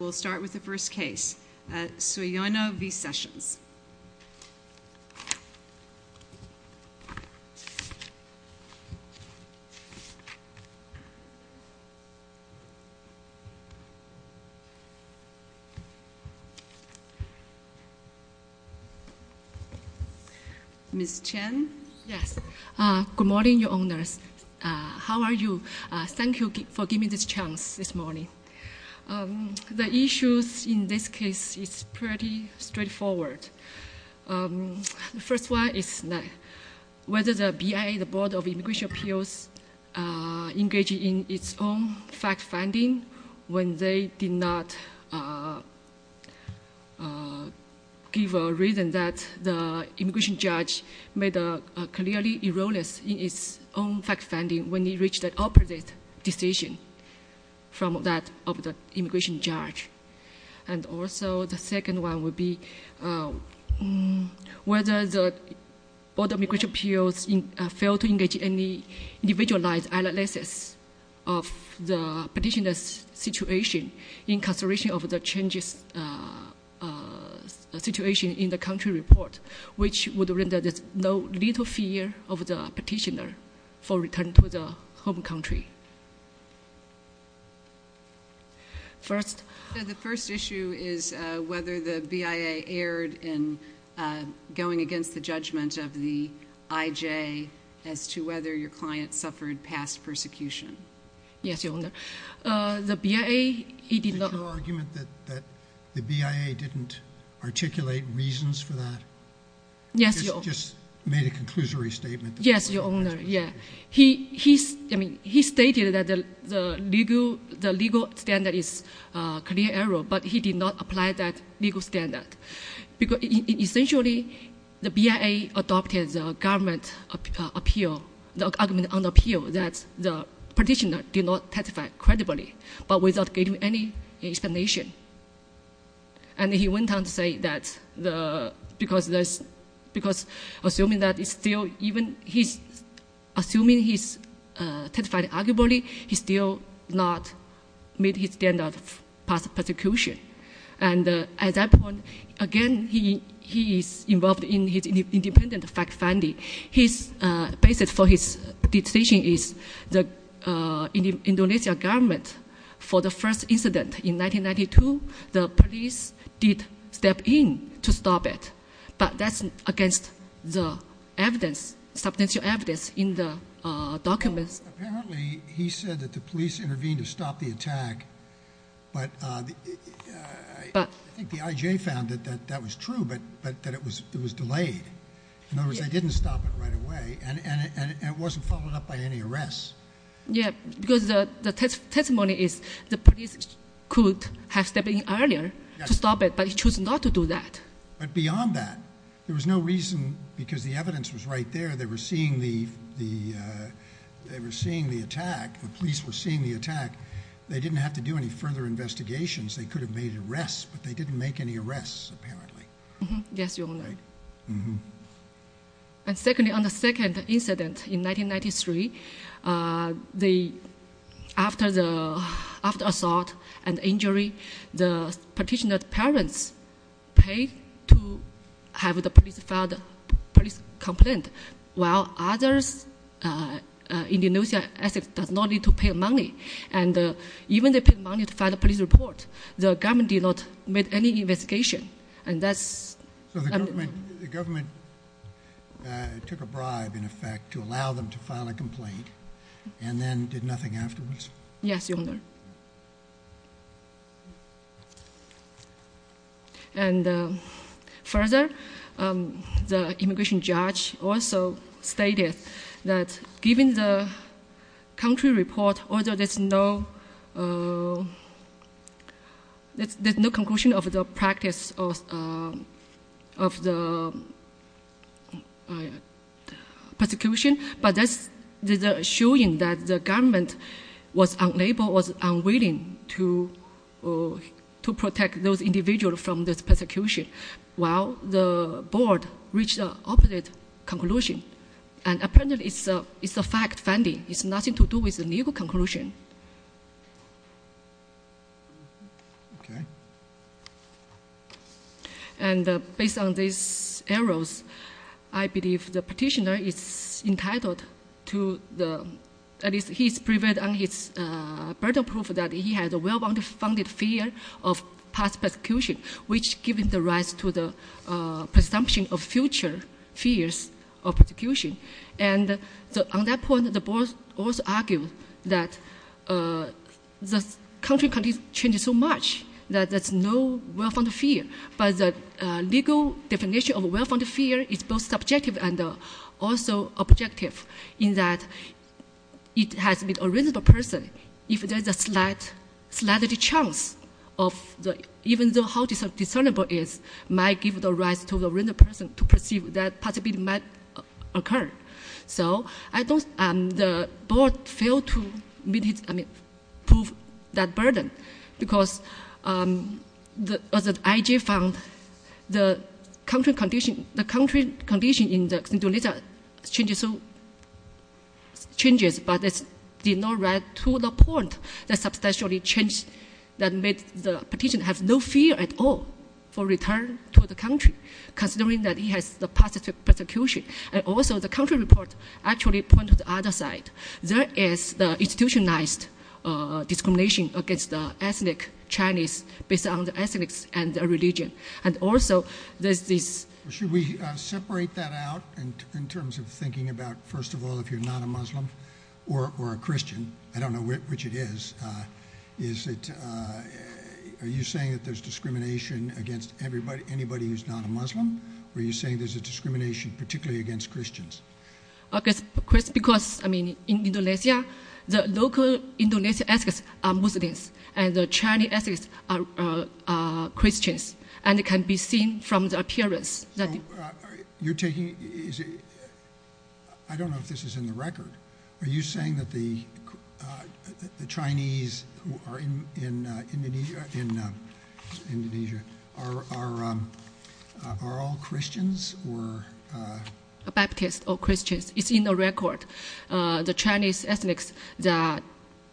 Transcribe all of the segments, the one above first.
We'll start with the first case, Suyono v. Sessions. Ms. Chen? Yes. Good morning, Your Honors. How are you? Thank you for giving me this chance this morning. The issues in this case is pretty straightforward. The first one is whether the BIA, the Board of Immigration Appeals, engaged in its own fact-finding when they did not give a reason that the immigration judge made a clearly erroneous in its own fact-finding when it reached an opposite decision from that of the immigration judge. And also the second one would be whether the Board of Immigration Appeals failed to engage any individualized analysis of the petitioner's situation in consideration of the changes situation in the country report, which would render little fear of the petitioner for return to the home country. First? The first issue is whether the BIA erred in going against the judgment of the IJ as to whether your client suffered past persecution. Yes, Your Honor. The BIA did not— Did you make an argument that the BIA didn't articulate reasons for that? Yes, Your Honor. You just made a conclusory statement that the BIA— Yes, Your Honor. He stated that the legal standard is a clear error, but he did not apply that legal standard. Essentially, the BIA adopted the argument on appeal that the petitioner did not testify credibly but without giving any explanation. And he went on to say that because assuming he testified arguably, he still did not meet his standard of past persecution. And at that point, again, he is involved in his independent fact-finding. His basis for his decision is the Indonesian government, for the first incident in 1992, the police did step in to stop it. But that's against the evidence, substantial evidence in the documents. Apparently, he said that the police intervened to stop the attack, but I think the IJ found that that was true, but that it was delayed. In other words, they didn't stop it right away, and it wasn't followed up by any arrests. Yeah, because the testimony is the police could have stepped in earlier to stop it, but he chose not to do that. But beyond that, there was no reason, because the evidence was right there. They were seeing the attack. The police were seeing the attack. They didn't have to do any further investigations. They could have made arrests, but they didn't make any arrests, apparently. Yes, Your Honor. And secondly, on the second incident in 1993, after the assault and injury, the petitioner's parents paid to have the police file a police complaint, while others in Indonesia, I think, did not need to pay money. And even if they paid money to file a police report, the government did not make any investigation. So the government took a bribe, in effect, to allow them to file a complaint, and then did nothing afterwards? Yes, Your Honor. And further, the immigration judge also stated that given the country report, although there's no conclusion of the practice of the persecution, but that's showing that the government was unwilling to protect those individuals from this persecution, while the board reached the opposite conclusion. And apparently, it's a fact finding. It has nothing to do with the legal conclusion. Okay. And based on these errors, I believe the petitioner is entitled to the— at least he's provided on his burden of proof that he had a well-founded fear of past persecution, which gives rise to the presumption of future fears of persecution. And on that point, the board also argued that the country changes so much that there's no well-founded fear, but the legal definition of a well-founded fear is both subjective and also objective, in that it has been a reasonable person if there's a slight chance of— even though how discernible it is might give rise to the reasonable person to perceive that possibility might occur. So I don't—the board failed to prove that burden, because the IG found the country condition in the Xindoleta changes so—changes, but it's not right to the point that substantially changed, that made the petitioner have no fear at all for return to the country, considering that he has the past persecution. And also the country report actually pointed to the other side. There is the institutionalized discrimination against the ethnic Chinese based on the ethnics and the religion, and also there's this— Should we separate that out in terms of thinking about, first of all, if you're not a Muslim or a Christian— I don't know which it is— is it—are you saying that there's discrimination against anybody who's not a Muslim? Or are you saying there's a discrimination particularly against Christians? Because, I mean, in Indonesia, the local Indonesian ethnics are Muslims, and the Chinese ethics are Christians, and it can be seen from the appearance that— So you're taking—I don't know if this is in the record. Are you saying that the Chinese in Indonesia are all Christians? Baptists or Christians, it's in the record. The Chinese ethics are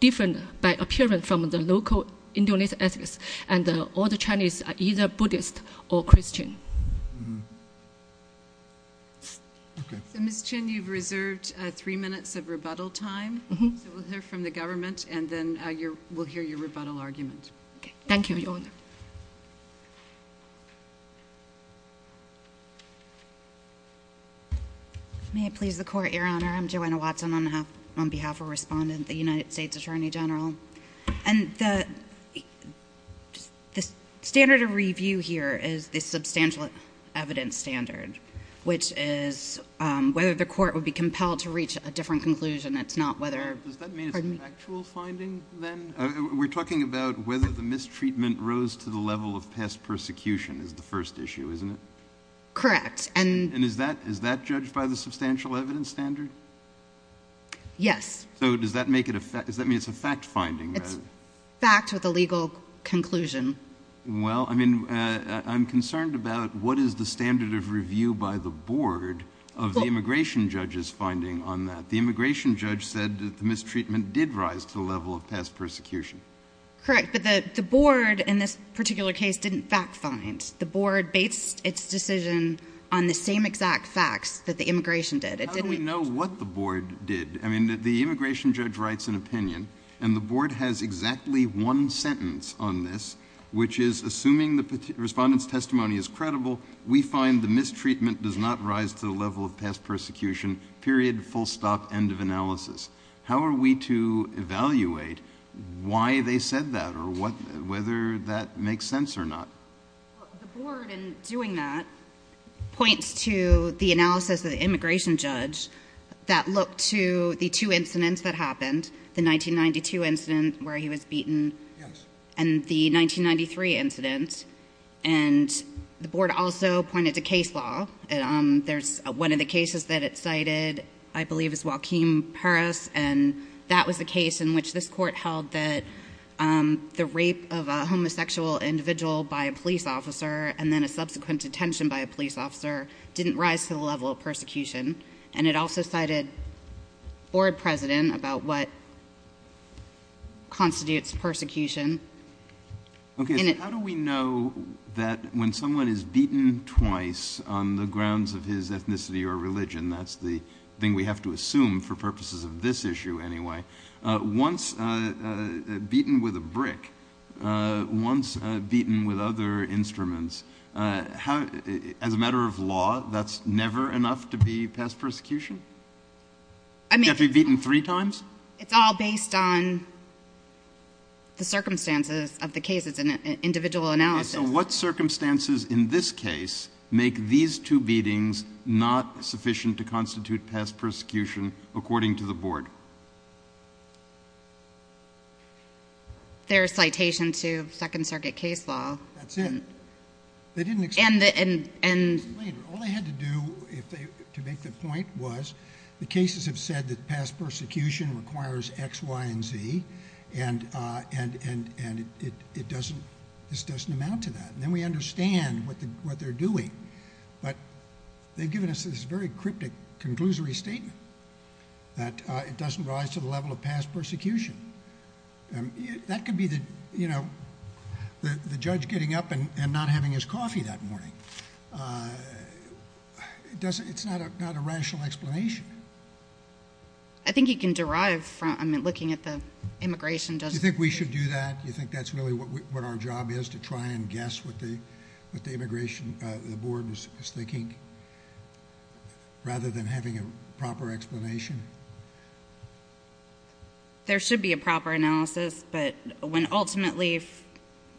different by appearance from the local Indonesian ethics, and all the Chinese are either Buddhist or Christian. Okay. Ms. Chin, you've reserved three minutes of rebuttal time, so we'll hear from the government, and then we'll hear your rebuttal argument. Thank you, Your Honor. May it please the Court, Your Honor. I'm Joanna Watson on behalf of Respondent, the United States Attorney General. And the standard of review here is the substantial evidence standard, which is whether the court would be compelled to reach a different conclusion. It's not whether— Does that mean it's a factual finding, then? We're talking about whether the mistreatment rose to the level of pest persecution is the first issue, isn't it? Correct. And is that judged by the substantial evidence standard? Yes. So does that make it a—does that mean it's a fact finding? It's fact with a legal conclusion. Well, I mean, I'm concerned about what is the standard of review by the board of the immigration judge's finding on that. The immigration judge said that the mistreatment did rise to the level of pest persecution. Correct, but the board in this particular case didn't fact find. The board based its decision on the same exact facts that the immigration did. How do we know what the board did? I mean, the immigration judge writes an opinion, and the board has exactly one sentence on this, which is, assuming the respondent's testimony is credible, we find the mistreatment does not rise to the level of pest persecution, period, full stop, end of analysis. How are we to evaluate why they said that or whether that makes sense or not? The board, in doing that, points to the analysis of the immigration judge that looked to the two incidents that happened, the 1992 incident where he was beaten and the 1993 incident, and the board also pointed to case law. There's one of the cases that it cited I believe is Joaquim Perez, and that was the case in which this court held that the rape of a homosexual individual by a police officer and then a subsequent detention by a police officer didn't rise to the level of persecution, and it also cited board president about what constitutes persecution. Okay, so how do we know that when someone is beaten twice on the grounds of his ethnicity or religion, and that's the thing we have to assume for purposes of this issue anyway, once beaten with a brick, once beaten with other instruments, as a matter of law, that's never enough to be pest persecution? I mean- You have to be beaten three times? It's all based on the circumstances of the cases and individual analysis. Okay, so what circumstances in this case make these two beatings not sufficient to constitute pest persecution according to the board? There are citations to Second Circuit case law. That's it. They didn't explain it. All they had to do to make the point was the cases have said that pest persecution requires X, Y, and Z, and this doesn't amount to that, and then we understand what they're doing, but they've given us this very cryptic conclusory statement that it doesn't rise to the level of pest persecution. That could be the judge getting up and not having his coffee that morning. It's not a rational explanation. I think you can derive from looking at the immigration- Do you think we should do that? Do you think that's really what our job is, to try and guess what the immigration board is thinking, rather than having a proper explanation? There should be a proper analysis, but when ultimately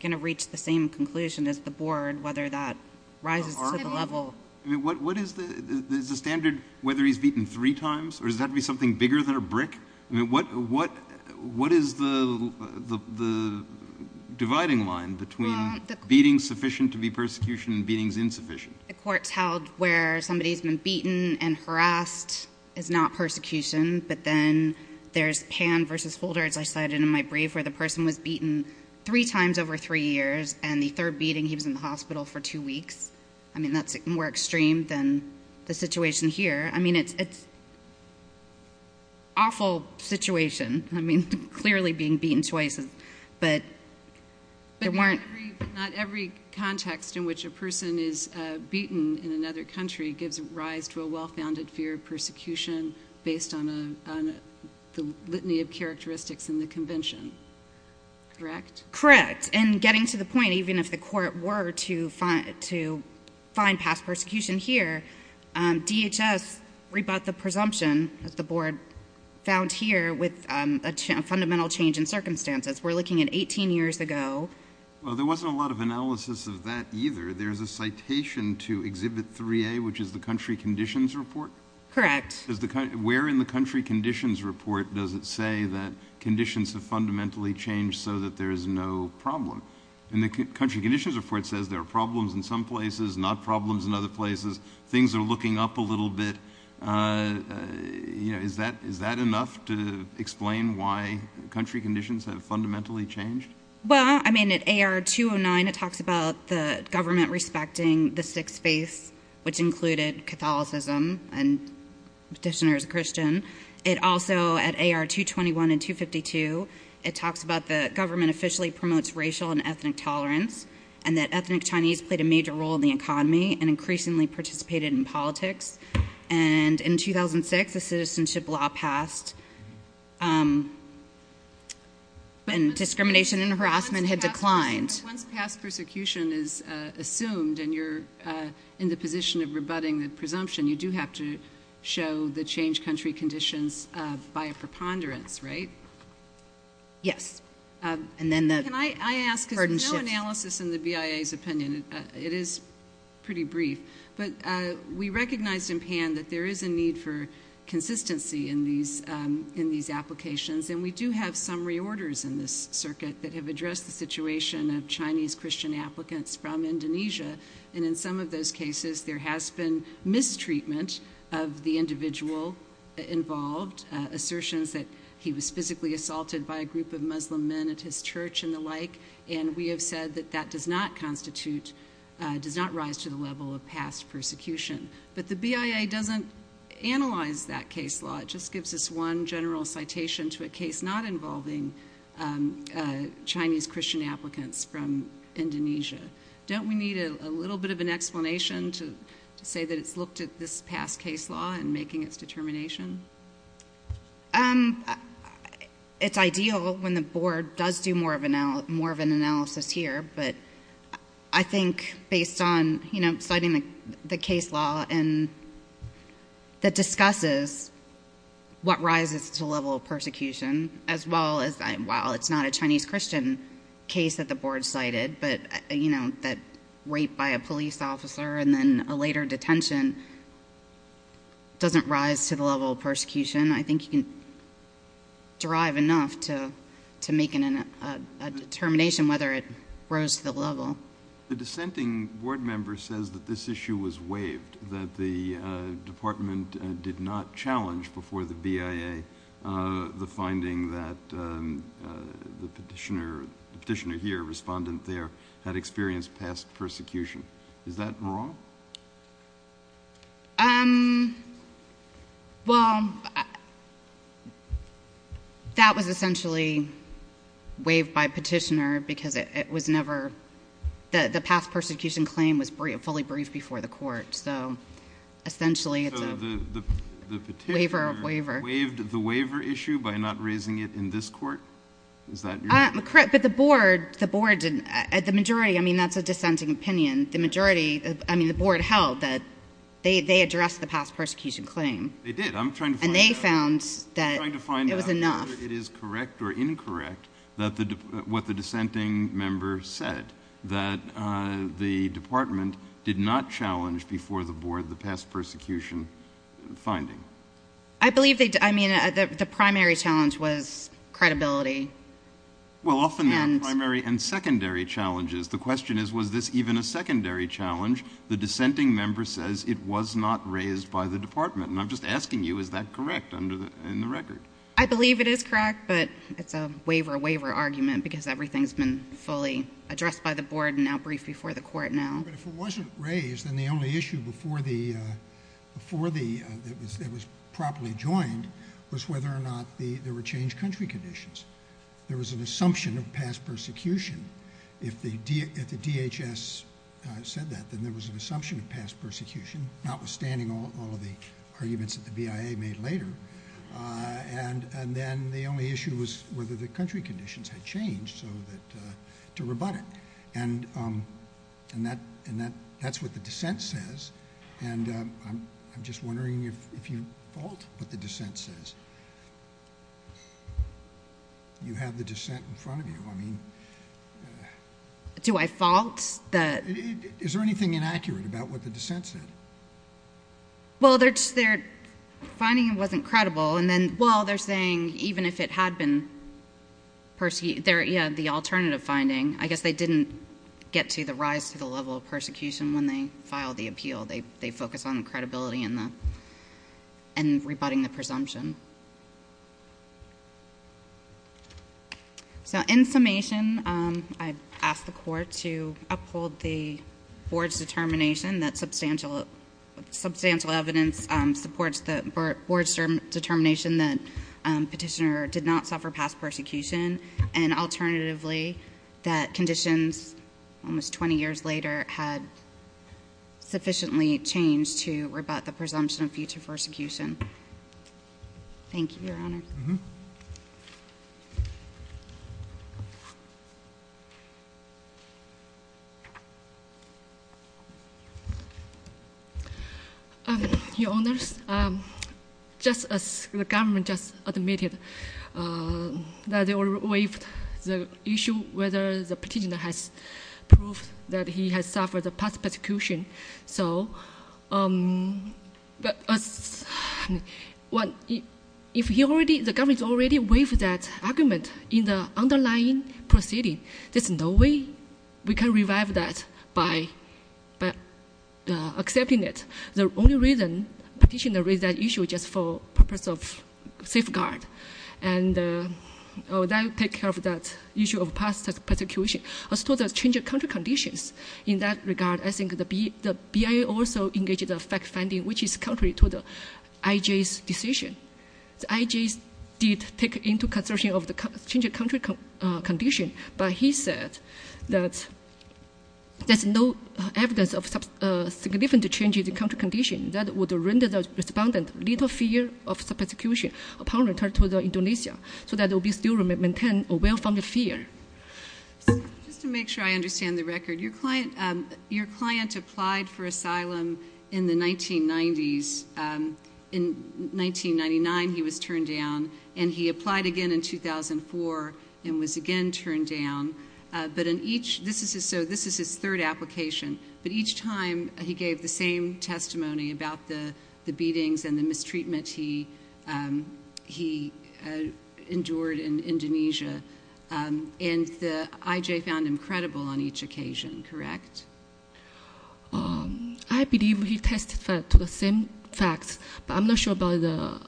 going to reach the same conclusion as the board, whether that rises to the level- Is the standard whether he's beaten three times, or does that have to be something bigger than a brick? What is the dividing line between beatings sufficient to be persecution and beatings insufficient? The court's held where somebody's been beaten and harassed is not persecution, but then there's Pan v. Holder, as I cited in my brief, where the person was beaten three times over three years, and the third beating, he was in the hospital for two weeks. That's more extreme than the situation here. It's an awful situation, clearly being beaten twice, but there weren't- But we agree that not every context in which a person is beaten in another country gives rise to a well-founded fear of persecution, based on the litany of characteristics in the convention, correct? Correct, and getting to the point, even if the court were to find past persecution here, DHS rebut the presumption that the board found here with a fundamental change in circumstances. We're looking at 18 years ago. Well, there wasn't a lot of analysis of that either. There's a citation to Exhibit 3A, which is the country conditions report. Correct. Where in the country conditions report does it say that conditions have fundamentally changed so that there is no problem? In the country conditions report, it says there are problems in some places, not problems in other places. Things are looking up a little bit. Is that enough to explain why country conditions have fundamentally changed? Well, I mean, at AR 209, it talks about the government respecting the six faiths, which included Catholicism, and petitioners are Christian. It also, at AR 221 and 252, it talks about the government officially promotes racial and ethnic tolerance, and that ethnic Chinese played a major role in the economy and increasingly participated in politics. In 2006, a citizenship law passed, and discrimination and harassment had declined. Once past persecution is assumed and you're in the position of rebutting the presumption, you do have to show the changed country conditions by a preponderance, right? Yes. Can I ask, because there's no analysis in the BIA's opinion. It is pretty brief. But we recognize in PAN that there is a need for consistency in these applications, and we do have some reorders in this circuit that have addressed the situation of Chinese Christian applicants from Indonesia. And in some of those cases, there has been mistreatment of the individual involved, assertions that he was physically assaulted by a group of Muslim men at his church and the like, and we have said that that does not constitute, does not rise to the level of past persecution. But the BIA doesn't analyze that case law. It just gives us one general citation to a case not involving Chinese Christian applicants from Indonesia. Don't we need a little bit of an explanation to say that it's looked at this past case law and making its determination? It's ideal when the board does do more of an analysis here, but I think based on citing the case law that discusses what rises to the level of persecution, as well as while it's not a Chinese Christian case that the board cited, but, you know, that rape by a police officer and then a later detention doesn't rise to the level of persecution, I think you can derive enough to make a determination whether it rose to the level. The dissenting board member says that this issue was waived, that the department did not challenge before the BIA the finding that the petitioner here, respondent there, had experienced past persecution. Is that wrong? Well, that was essentially waived by petitioner because it was never, the past persecution claim was fully briefed before the court, so essentially it's a waiver of waiver. So they waived the waiver issue by not raising it in this court? Is that correct? But the board, the majority, I mean, that's a dissenting opinion. The majority, I mean, the board held that they addressed the past persecution claim. They did. I'm trying to find out whether it is correct or incorrect what the dissenting member said, that the department did not challenge before the board the past persecution finding. I believe they did. I mean, the primary challenge was credibility. Well, often there are primary and secondary challenges. The question is, was this even a secondary challenge? The dissenting member says it was not raised by the department. And I'm just asking you, is that correct in the record? I believe it is correct, but it's a waiver of waiver argument because everything's been fully addressed by the board and now briefed before the court now. But if it wasn't raised, then the only issue that was properly joined was whether or not there were changed country conditions. There was an assumption of past persecution. If the DHS said that, then there was an assumption of past persecution, notwithstanding all of the arguments that the BIA made later. And then the only issue was whether the country conditions had changed to rebut it. And that's what the dissent says. And I'm just wondering if you fault what the dissent says. You have the dissent in front of you. Do I fault? Is there anything inaccurate about what the dissent said? Well, their finding wasn't credible. And then, well, they're saying even if it had been perceived, yeah, the alternative finding, I guess they didn't get to the rise to the level of persecution when they filed the appeal. They focused on the credibility and rebutting the presumption. So in summation, I ask the court to uphold the board's determination that substantial evidence supports the board's determination that Petitioner did not suffer past persecution and alternatively that conditions almost 20 years later had sufficiently changed to rebut the presumption of future persecution. Thank you, Your Honors. Mm-hmm. Your Honors, just as the government just admitted that they waived the issue whether the Petitioner has proved that he has suffered past persecution. So if the government already waived that argument in the underlying proceeding, there's no way we can revive that by accepting it. The only reason Petitioner raised that issue just for purpose of safeguard and that will take care of that issue of past persecution. As to the change of country conditions, in that regard, I think the BIA also engaged in fact-finding, which is contrary to the IJ's decision. The IJ did take into consideration of the change of country condition, but he said that there's no evidence of significant change in the country condition that would render the respondent little fear of persecution upon return to Indonesia so that they'll be still maintained aware from the fear. Just to make sure I understand the record, your client applied for asylum in the 1990s. In 1999, he was turned down, and he applied again in 2004 and was again turned down. So this is his third application, but each time he gave the same testimony about the beatings and the mistreatment he endured in Indonesia, and the IJ found him credible on each occasion, correct? I believe he testified to the same facts, but I'm not sure about the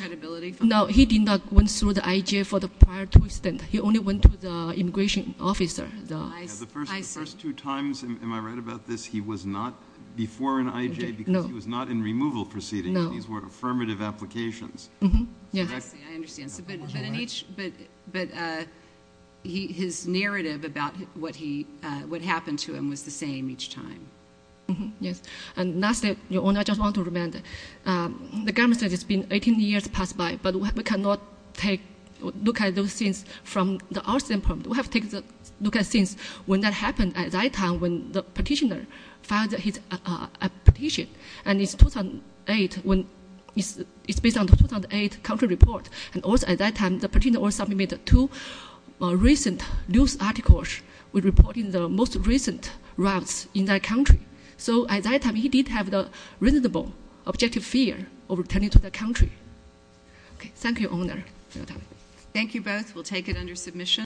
credibility. No, he did not go through the IJ for the prior two stint. He only went to the immigration officer. The first two times, am I right about this? He was not before an IJ because he was not in removal proceedings. These were affirmative applications. Yes, I understand. But his narrative about what happened to him was the same each time. Yes. And lastly, your Honor, I just want to remind the government that it's been 18 years passed by, but we cannot look at those things from our standpoint. We have to take a look at things when that happened at that time when the petitioner filed his petition, and it's 2008 when it's based on the 2008 country report, and also at that time the petitioner also submitted two recent news articles with reporting the most recent riots in that country. So at that time, he did have the reasonable objective fear of returning to the country. Thank you, Your Honor. Thank you both. We'll take it under submission.